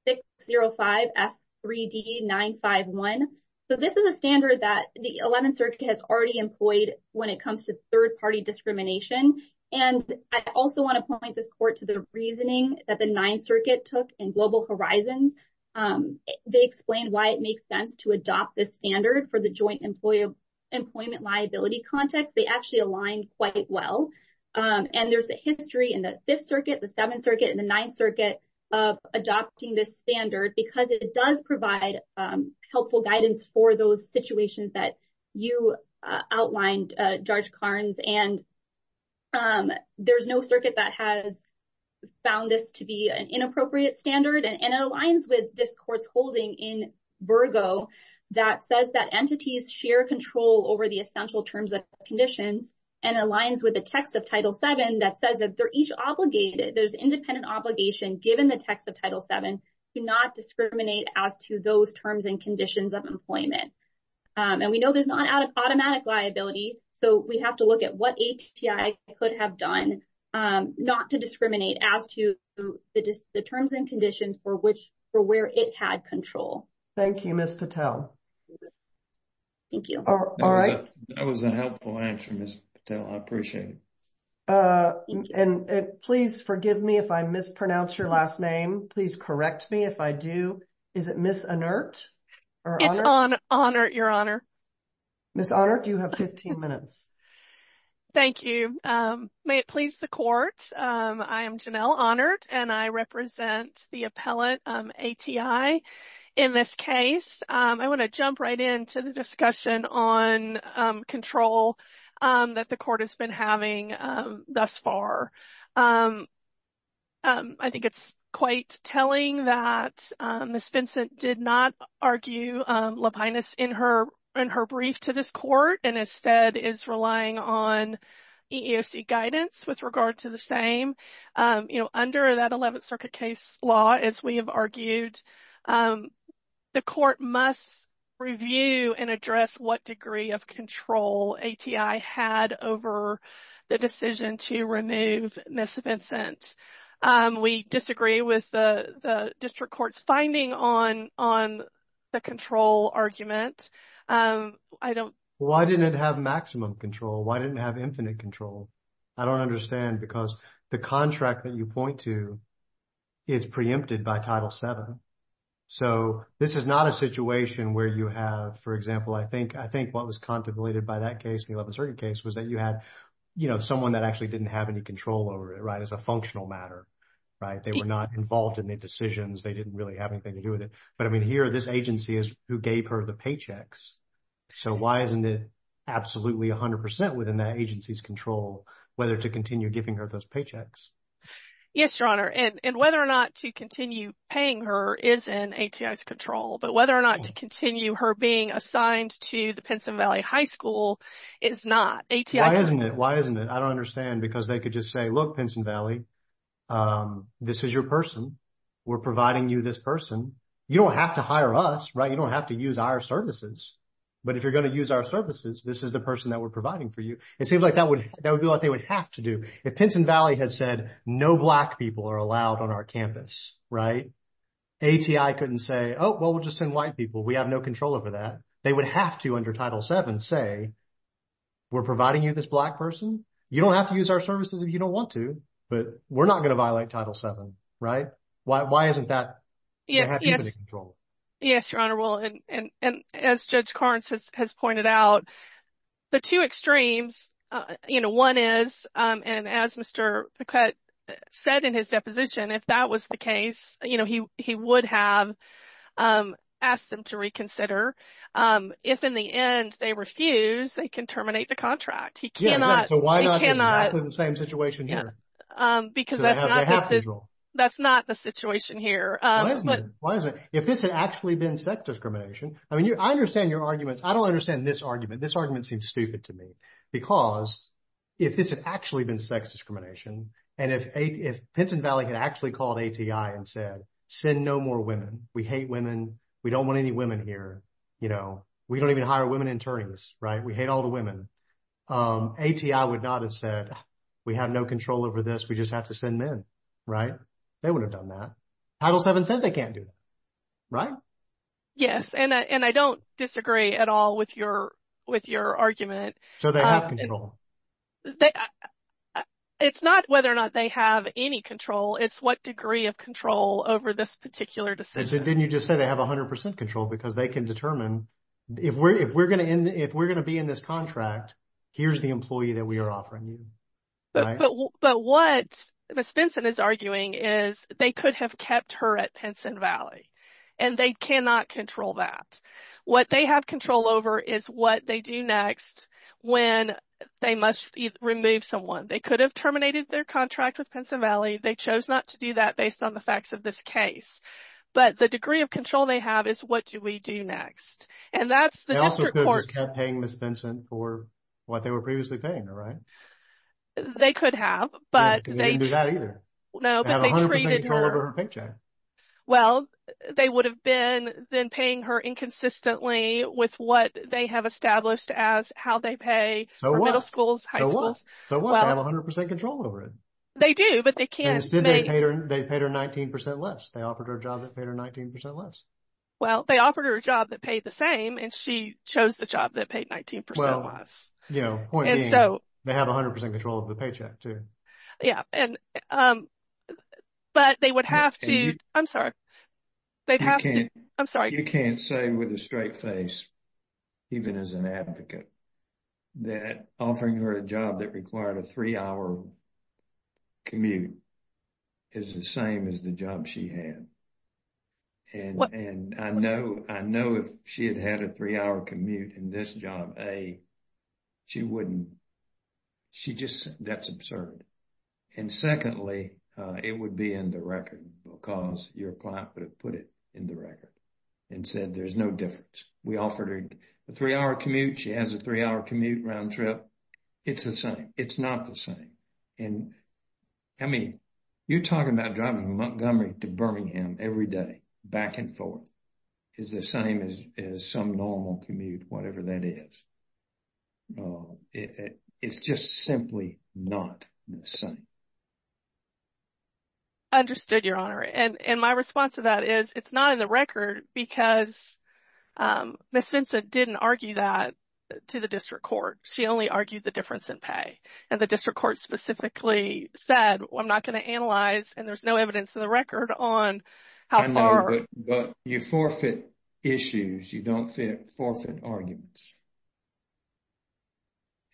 605F3D951. So, this is a standard that the 11th Circuit has already employed when it comes to third party discrimination. And I also want to point this court to the reasoning that the 9th Circuit took in Global Horizons. They explained why it makes sense to adopt this standard for the joint employment liability context. They actually aligned quite well. And there's a history in the 5th Circuit, the 7th Circuit, and the 9th Circuit of adopting this standard because it does provide helpful guidance for those situations that you outlined, Judge Carnes. And there's no circuit that has found this to be an inappropriate standard. And it aligns with this court's holding in Virgo that says that entities share control over the essential terms of conditions and aligns with the text of Title VII that says that they're each obligated, there's independent obligation given the text of Title VII to not discriminate as to those terms and conditions of employment. And we know there's not automatic liability. So, we have to look at what ATI could have done not to discriminate as to the terms and conditions for where it had control. Thank you, Ms. Patel. Thank you. All right. That was a helpful answer, Ms. Patel. I appreciate it. And please forgive me if I mispronounce your last name. Please correct me if I do. Is it Ms. Annert? It's Annert, Your Honor. Ms. Annert, you have 15 minutes. Thank you. May it please the Court, I am Janelle Annert and I represent the appellate ATI in this case. I want to jump right into the discussion on control that the Court has been having thus far. I think it's quite telling that Ms. Vincent did not argue lapinus in her brief to this Court and instead is relying on EEOC guidance with regard to the same. You know, under that 11th Circuit case law, as we have argued, the Court must review and address what degree of control ATI had over the decision to remove Ms. Vincent. We disagree with the District Court's finding on the control argument. Why didn't it have maximum control? Why didn't it have infinite control? I don't understand because the contract that you point to is preempted by Title VII. So, this is not a situation where you have, for example, I think what was contemplated by that 11th Circuit case was that you had, you know, someone that actually didn't have any control over it, right, as a functional matter, right? They were not involved in the decisions. They didn't really have anything to do with it. But I mean, here, this agency is who gave her the paychecks. So, why isn't it absolutely 100% within that agency's control whether to continue giving her those paychecks? Yes, Your Honor. And whether or not to continue paying her is in ATI's control. But whether or not to continue her being assigned to the Pinson Valley High School is not. ATI- Why isn't it? Why isn't it? I don't understand because they could just say, look, Pinson Valley, this is your person. We're providing you this person. You don't have to hire us, right? You don't have to use our services. But if you're going to use our services, this is the person that we're providing for you. It seems like that would be what they would have to do. If Pinson Valley had said no black people are allowed on our campus, right, ATI couldn't say, oh, well, we'll just send white people. We have no control over that. They would have to under Title VII say, we're providing you this black person. You don't have to use our services if you don't want to. But we're not going to violate Title VII, right? Why isn't that in ATI's control? Yes, Your Honor. Well, and as Judge Carnes has pointed out, the two extremes, you know, one is, and as Mr. Pequette said in his deposition, if that was the case, you know, he would have asked them to reconsider. If in the end they refuse, they can terminate the contract. He cannot. Yeah, so why not do exactly the same situation here? Because that's not the situation here. Why isn't it? If this had actually been sex discrimination, I mean, I understand your arguments. I don't understand this argument. This argument seems stupid to me because if this had actually been sex discrimination, and if Pinson Valley had actually called ATI and said, send no more women. We hate women. We don't want any women here. You know, we don't even hire women attorneys, right? We hate all the women. ATI would not have said, we have no control over this. We just have to send men, right? They would have done that. Title VII says they can't do that, right? Yes, and I don't disagree at all with your argument. So they have control. It's not whether or not they have any control. It's what degree of control over this particular decision. Didn't you just say they have 100 percent control because they can determine, if we're going to be in this contract, here's the employee that we are offering you, right? But what Ms. Benson is arguing is they could have kept her at Pinson Valley, and they cannot control that. What they have control over is what they do next when they must remove someone. They could have terminated their contract with Pinson Valley. They chose not to do that based on the facts of this case. But the degree of control they have is what do we do next? And that's the district court- They also could have just kept paying Ms. Benson for what they were previously paying her, right? They could have, but they- They didn't do that either. They have 100 percent control over her paycheck. Well, they would have been then paying her inconsistently with what they have established as how they pay for middle schools, high schools. So what? They have 100 percent control over it. They do, but they can't- Instead, they paid her 19 percent less. They offered her a job that paid her 19 percent less. Well, they offered her a job that paid the same, and she chose the job that paid 19 percent less. Well, you know, point being, they have 100 percent of the paycheck too. Yeah. But they would have to- I'm sorry. They'd have to- I'm sorry. You can't say with a straight face, even as an advocate, that offering her a job that required a three-hour commute is the same as the job she had. And I know if she had had a three-hour commute in this job, A, she wouldn't- She just- That's absurd. And secondly, it would be in the record because your client would have put it in the record and said, there's no difference. We offered her a three-hour commute. She has a three-hour commute round trip. It's the same. It's not the same. And I mean, you're talking about driving from Montgomery to Birmingham every day, back and forth, is the same as some normal commute, whatever that is. It's just simply not the same. I understood, Your Honor. And my response to that is, it's not in the record because Ms. Vincent didn't argue that to the district court. She only argued the difference in pay. And the district court specifically said, I'm not going to analyze, and there's no evidence in the record on how far- I know, but you forfeit issues. You don't fit forfeit arguments.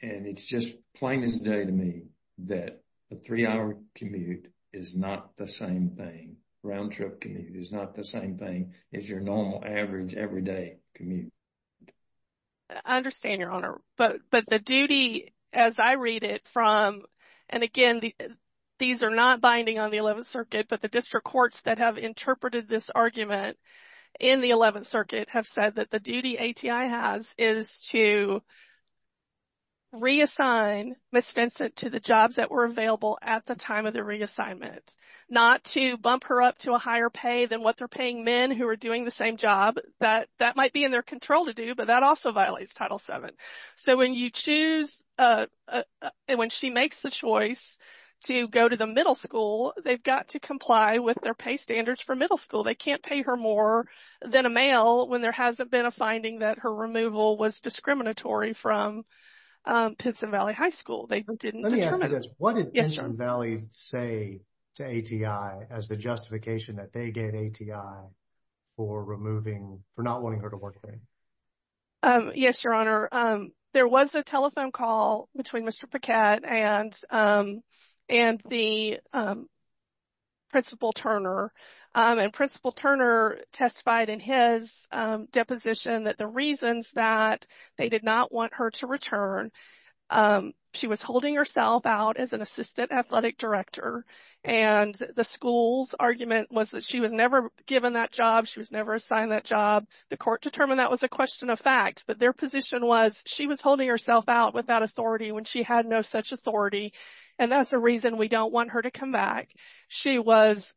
And it's just plain as day to me that a three-hour commute is not the same thing. Round trip commute is not the same thing as your normal average everyday commute. I understand, Your Honor. But the duty, as I read it from, and again, these are not binding on the 11th Circuit, but the district courts that have interpreted this argument in the 11th Circuit have said that the duty ATI has is to reassign Ms. Vincent to the jobs that were available at the time of the reassignment, not to bump her up to a higher pay than what they're paying men who are doing the same job. That might be in their control to do, but that also violates Title VII. So when you choose, and when she makes the choice to go to the middle school, they've got to comply with their pay standards for middle school. They can't pay her more than a male when there hasn't been a finding that her removal was discriminatory from Pinson Valley High School. They didn't determine- Let me ask you this. What did Pinson Valley say to ATI as the justification that they get ATI for removing, for not wanting her to work there? Yes, Your Honor. There was a telephone call between Mr. Paquette and the Principal Turner, and Principal Turner testified in his deposition that the reasons that they did not want her to return, she was holding herself out as an assistant athletic director, and the school's argument was that she was never given that job. She was never assigned that job. The court determined that was a question of fact, but their position was she was holding herself out without authority when she had no such authority, and that's a reason we don't want her to come back. She was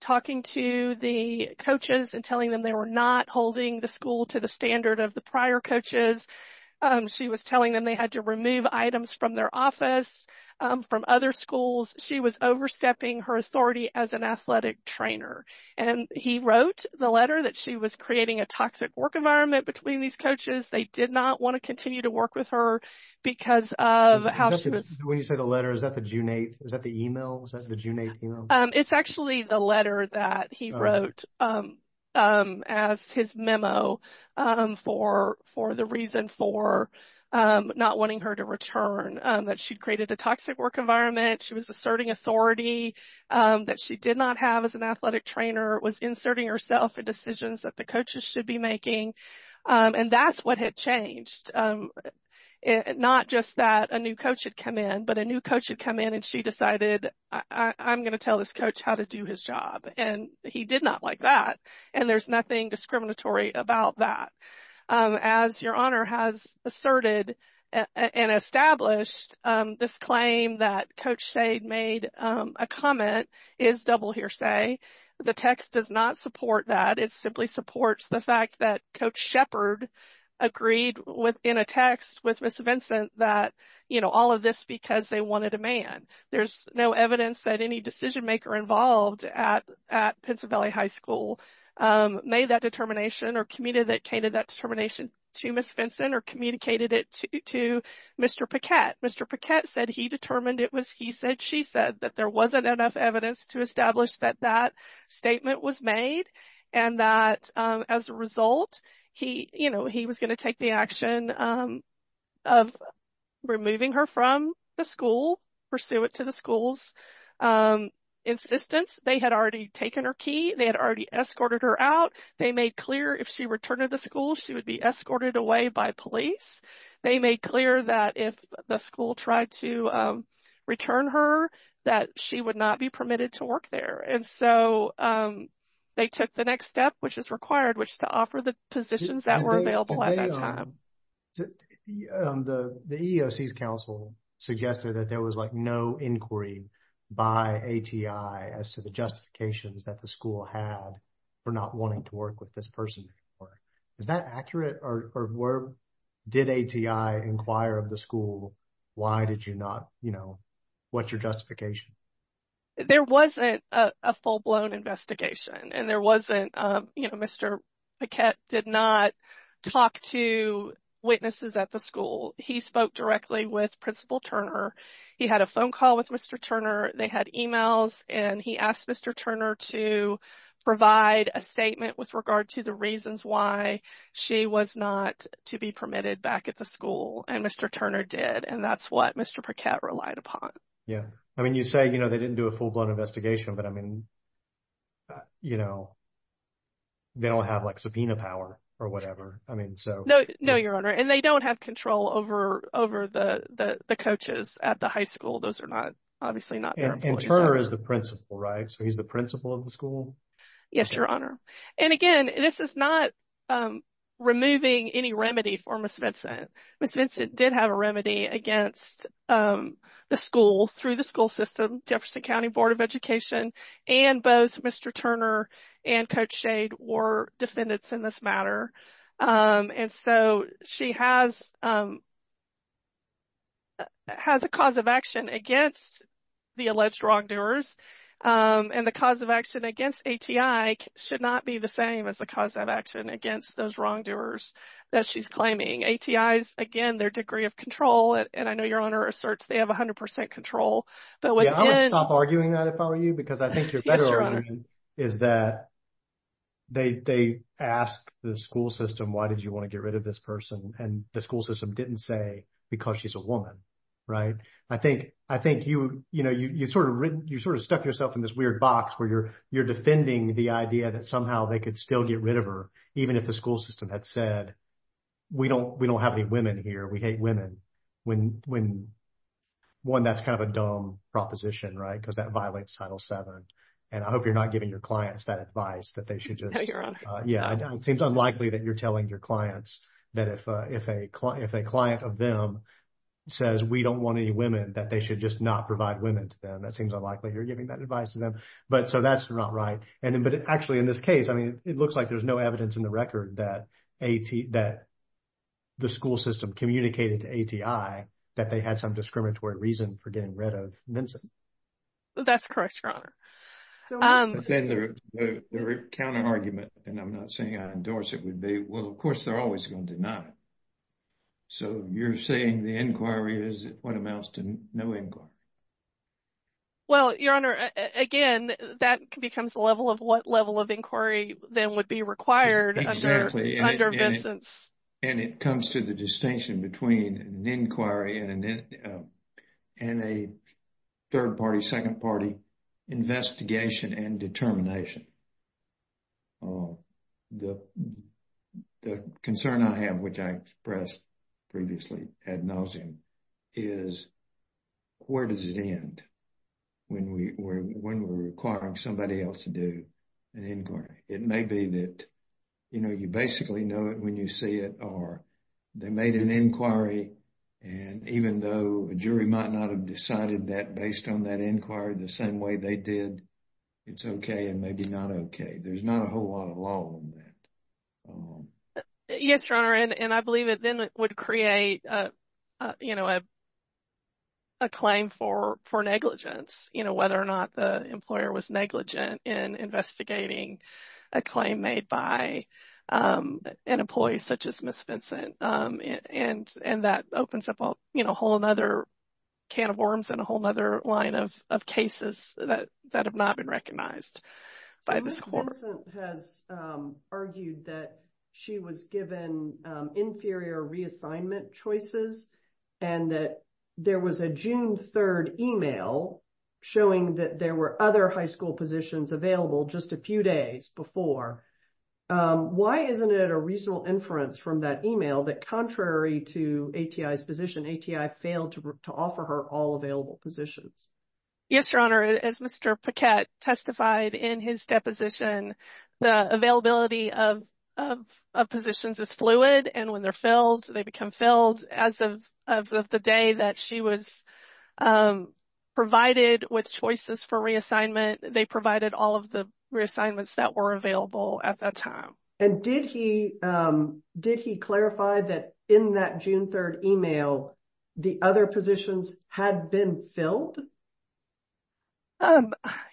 talking to the coaches and telling them they were not holding the school to the standard of the prior coaches. She was telling them they had to remove items from their office, from other schools. She was overstepping her authority as an athletic trainer, and he wrote the letter that she was creating a toxic work environment between these coaches. They did not want to continue to work with her because of how she was. When you say the letter, is that the June 8th? Is that the email? Was that the June 8th email? It's actually the letter that he wrote as his memo for the reason for not wanting her to return, that she'd created a toxic work environment. She was asserting authority that she did not have as an athletic trainer, was inserting herself in decisions that the coaches should be making, and that's what had changed. Not just that a new coach had come in, but a new coach had come in, and she decided I'm going to tell this coach how to do his job, and he did not like that, and there's nothing discriminatory about that. As Your Honor has asserted and established, this claim that Coach Sade made a comment is double hearsay. The text does not support that. It simply supports the fact that Coach Shepard agreed within a text with Ms. Vincent that all of this because they wanted a man. There's no evidence that any decision maker involved at Pennsylvania High School made that determination or communicated that determination to Ms. Vincent or communicated it to Mr. Paquette. Mr. Paquette said he determined it was he said she said that there wasn't enough evidence to establish that that statement was made, and that as a result, he was going to take the action of removing her from the school, pursue it to the school's insistence. They had already taken her key. They had already escorted her out. They made clear if she returned to the school, she would be escorted away by police. They made clear that if the school tried to return her, that she would not permitted to work there. And so, they took the next step, which is required, which is to offer the positions that were available at that time. The EEOC's counsel suggested that there was like no inquiry by ATI as to the justifications that the school had for not wanting to work with this person. Is that accurate? Or did ATI inquire of the school? Why did you not, you know, what's your justification? There wasn't a full-blown investigation, and there wasn't, you know, Mr. Paquette did not talk to witnesses at the school. He spoke directly with Principal Turner. He had a phone call with Mr. Turner. They had emails, and he asked Mr. Turner to provide a statement with regard to the reasons why she was not to be permitted back at the school, and Mr. Turner did. And that's what Mr. Paquette relied upon. Yeah. I mean, you say, you know, they didn't do a full-blown investigation, but I mean, you know, they don't have like subpoena power or whatever. I mean, so. No, no, Your Honor. And they don't have control over the coaches at the high school. Those are not, obviously, not their employees. And Turner is the principal, right? So, he's the principal of the school? Yes, Your Honor. And again, this is not removing any remedy for Ms. Vincent. Ms. Vincent did have a remedy against the school through the school system, Jefferson County Board of Education, and both Mr. Turner and Coach Shade were defendants in this matter. And so, she has a cause of action against the alleged wrongdoers, and the cause of action against those wrongdoers that she's claiming. ATIs, again, their degree of control, and I know Your Honor asserts they have 100 percent control. Yeah, I would stop arguing that if I were you, because I think your better argument is that they asked the school system, why did you want to get rid of this person? And the school system didn't say, because she's a woman, right? I think, you know, you sort of stuck yourself in this weird box where you're defending the idea that somehow they could still get rid of her, even if the school system had said, we don't have any women here, we hate women. One, that's kind of a dumb proposition, right? Because that violates Title VII. And I hope you're not giving your clients that advice that they should just... No, Your Honor. Yeah, it seems unlikely that you're telling your clients that if a client of them says, we don't want any women, that they should just not provide women to them. That seems unlikely you're giving that advice to them. But so that's not right. But actually, in this case, I mean, it looks like there's no evidence in the record that the school system communicated to ATI that they had some discriminatory reason for getting rid of Minson. That's correct, Your Honor. Their counter-argument, and I'm not saying I endorse it, would be, well, of course, they're always going to deny it. So you're saying the inquiry is what amounts to no inquiry? Well, Your Honor, again, that becomes the level of what level of inquiry then would be required under Vincent's... Exactly. And it comes to the distinction between an inquiry and a third-party, second-party investigation and determination. The concern I have, which I expressed previously ad nauseum, is where does it end when we're requiring somebody else to do an inquiry? It may be that, you know, you basically know it when you see it, or they made an inquiry, and even though a jury might not have decided that based on that inquiry the same way they did, it's okay and maybe not the best way to do it. There's not a whole lot of law on that. Yes, Your Honor, and I believe it then would create a claim for negligence, you know, whether or not the employer was negligent in investigating a claim made by an employee such as Ms. Vincent. And that opens up a whole other can of worms and a whole other line of cases that have not been recognized by this court. Ms. Vincent has argued that she was given inferior reassignment choices and that there was a June 3rd email showing that there were other high school positions available just a few days before. Why isn't it a reasonable inference from that email that contrary to ATI's position, ATI failed to offer her all available positions? Yes, Your Honor, as Mr. Paquette testified in his deposition, the availability of positions is fluid, and when they're filled, they become filled as of the day that she was provided with choices for reassignment. They provided all of the reassignments that were available at that time. And did he clarify that in that June 3rd email the other positions had been filled?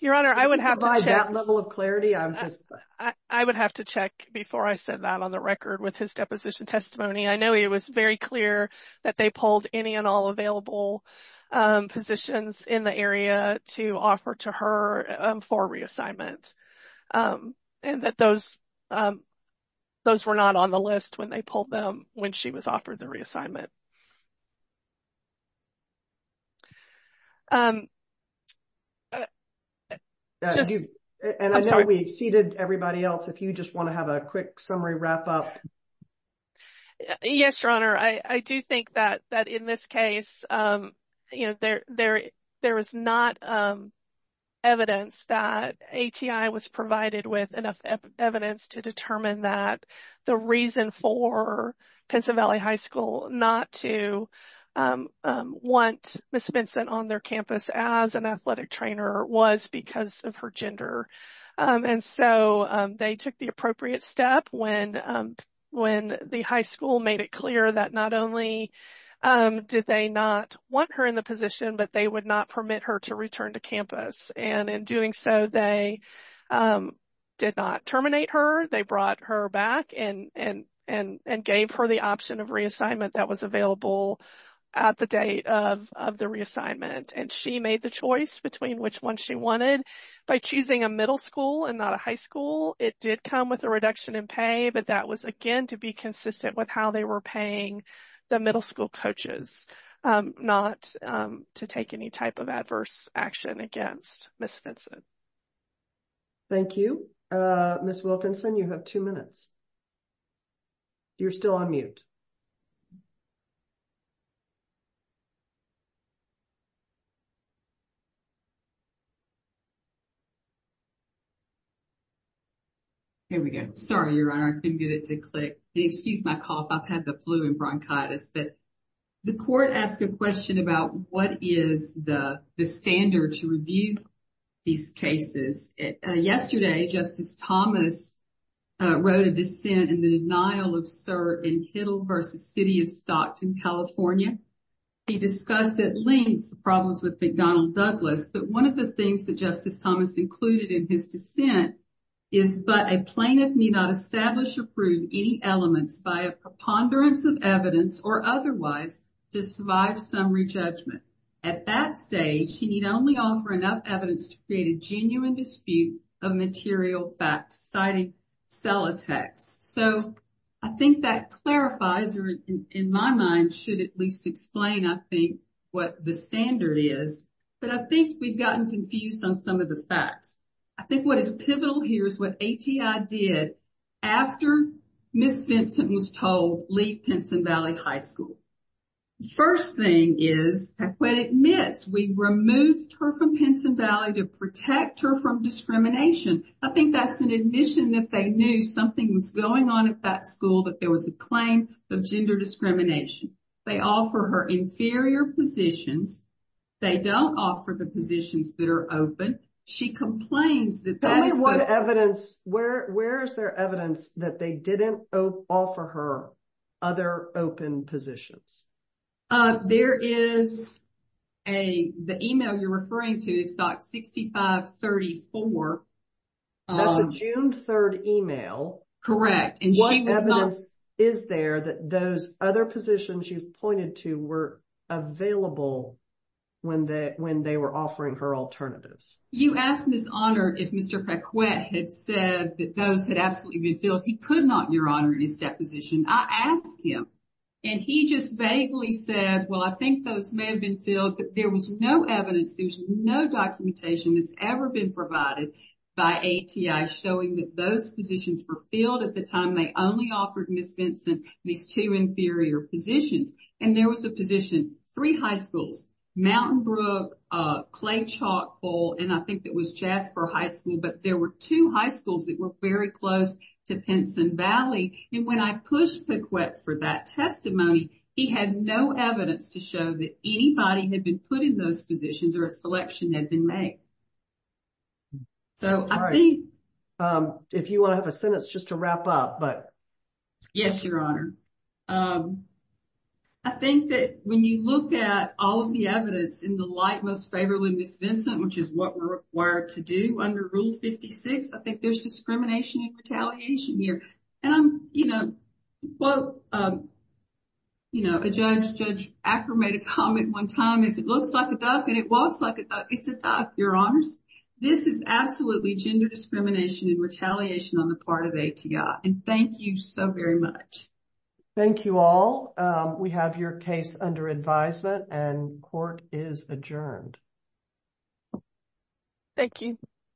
Your Honor, I would have to check that level of clarity. I would have to check before I said that on the record with his deposition testimony. I know it was very clear that they pulled any and all available positions in the area to offer to her for reassignment and that those were not on the list when they pulled them when she was offered the reassignment. And I know we've seeded everybody else. If you just want to have a quick summary wrap up. Yes, Your Honor, I do think that in this case, you know, there is not evidence that ATI was provided with enough evidence to determine that the reason for Pennsylvania High School not to want Ms. Vincent on their campus as an athletic trainer was because of her gender. And so they took the appropriate step when the high school made it clear that not only did they not want her in the position, but they would not permit her to return to campus. And in doing so, they did not terminate her. They brought her back and gave her the option of reassignment that was available at the date of the reassignment. And she made the choice between which one she wanted by choosing a middle school and not a high school. It did come with a reduction in pay, but that was again to be consistent with how they were paying the middle school coaches not to take any type of adverse action against Ms. Vincent. Thank you. Ms. Wilkinson, you have two minutes. You're still on mute. Here we go. Sorry, Your Honor, I couldn't get it to click. Excuse my cough. I've had the flu and bronchitis. But the court asked a question about what is the standard to review these cases. Yesterday, Justice Thomas wrote a dissent in the denial of cert in Hiddle v. City of Stockton, California. He discussed at length the problems with McDonnell Douglas. But one of the things that Justice Thomas included in his dissent is, but a plaintiff may not establish or prove any elements by a preponderance of evidence or otherwise to survive summary judgment. At that stage, he need only offer enough evidence to create a genuine dispute of material fact, citing sell a text. So I think that clarifies or in my mind should at least explain, I think, what the standard is. But I think we've gotten confused on some of the facts. I think what is pivotal here is what ATI did after Ms. Vincent was told leave Pinson Valley High School. First thing is, when it admits we removed her from Pinson Valley to protect her from discrimination, I think that's an admission that they knew something was going on at that school, that there was a claim of gender discrimination. They offer her inferior positions. They don't offer the positions that are open. She complains that- Tell me what evidence, where is there evidence that they didn't offer her other open positions? There is a, the email you're referring to is stock 6534. That's a June 3rd email. Correct. And she was not- She was not available when they were offering her alternatives. You asked Ms. Honor if Mr. Paquette had said that those had absolutely been filled. He could not, Your Honor, in his deposition. I asked him and he just vaguely said, well, I think those may have been filled, but there was no evidence. There was no documentation that's ever been provided by ATI showing that those positions were filled at the time they only offered Ms. Pinson these two inferior positions. And there was a position, three high schools, Mountain Brook, Clay Chalk Bowl, and I think it was Jasper High School, but there were two high schools that were very close to Pinson Valley. And when I pushed Paquette for that testimony, he had no evidence to show that anybody had been put in those positions or a selection had been made. So, I think- All right. If you want to have a sentence just to wrap up, but- Yes, Your Honor. I think that when you look at all of the evidence in the light most favorably Ms. Vincent, which is what we're required to do under Rule 56, I think there's discrimination and retaliation here. And I'm, you know, well, you know, a judge, Judge Acker made a comment one time, if it looks like a duck and it walks like a duck, it's a duck, Your Honors. This is absolutely gender discrimination and retaliation on the part of ATI. And thank you so very much. Thank you all. We have your case under advisement and court is adjourned. Thank you.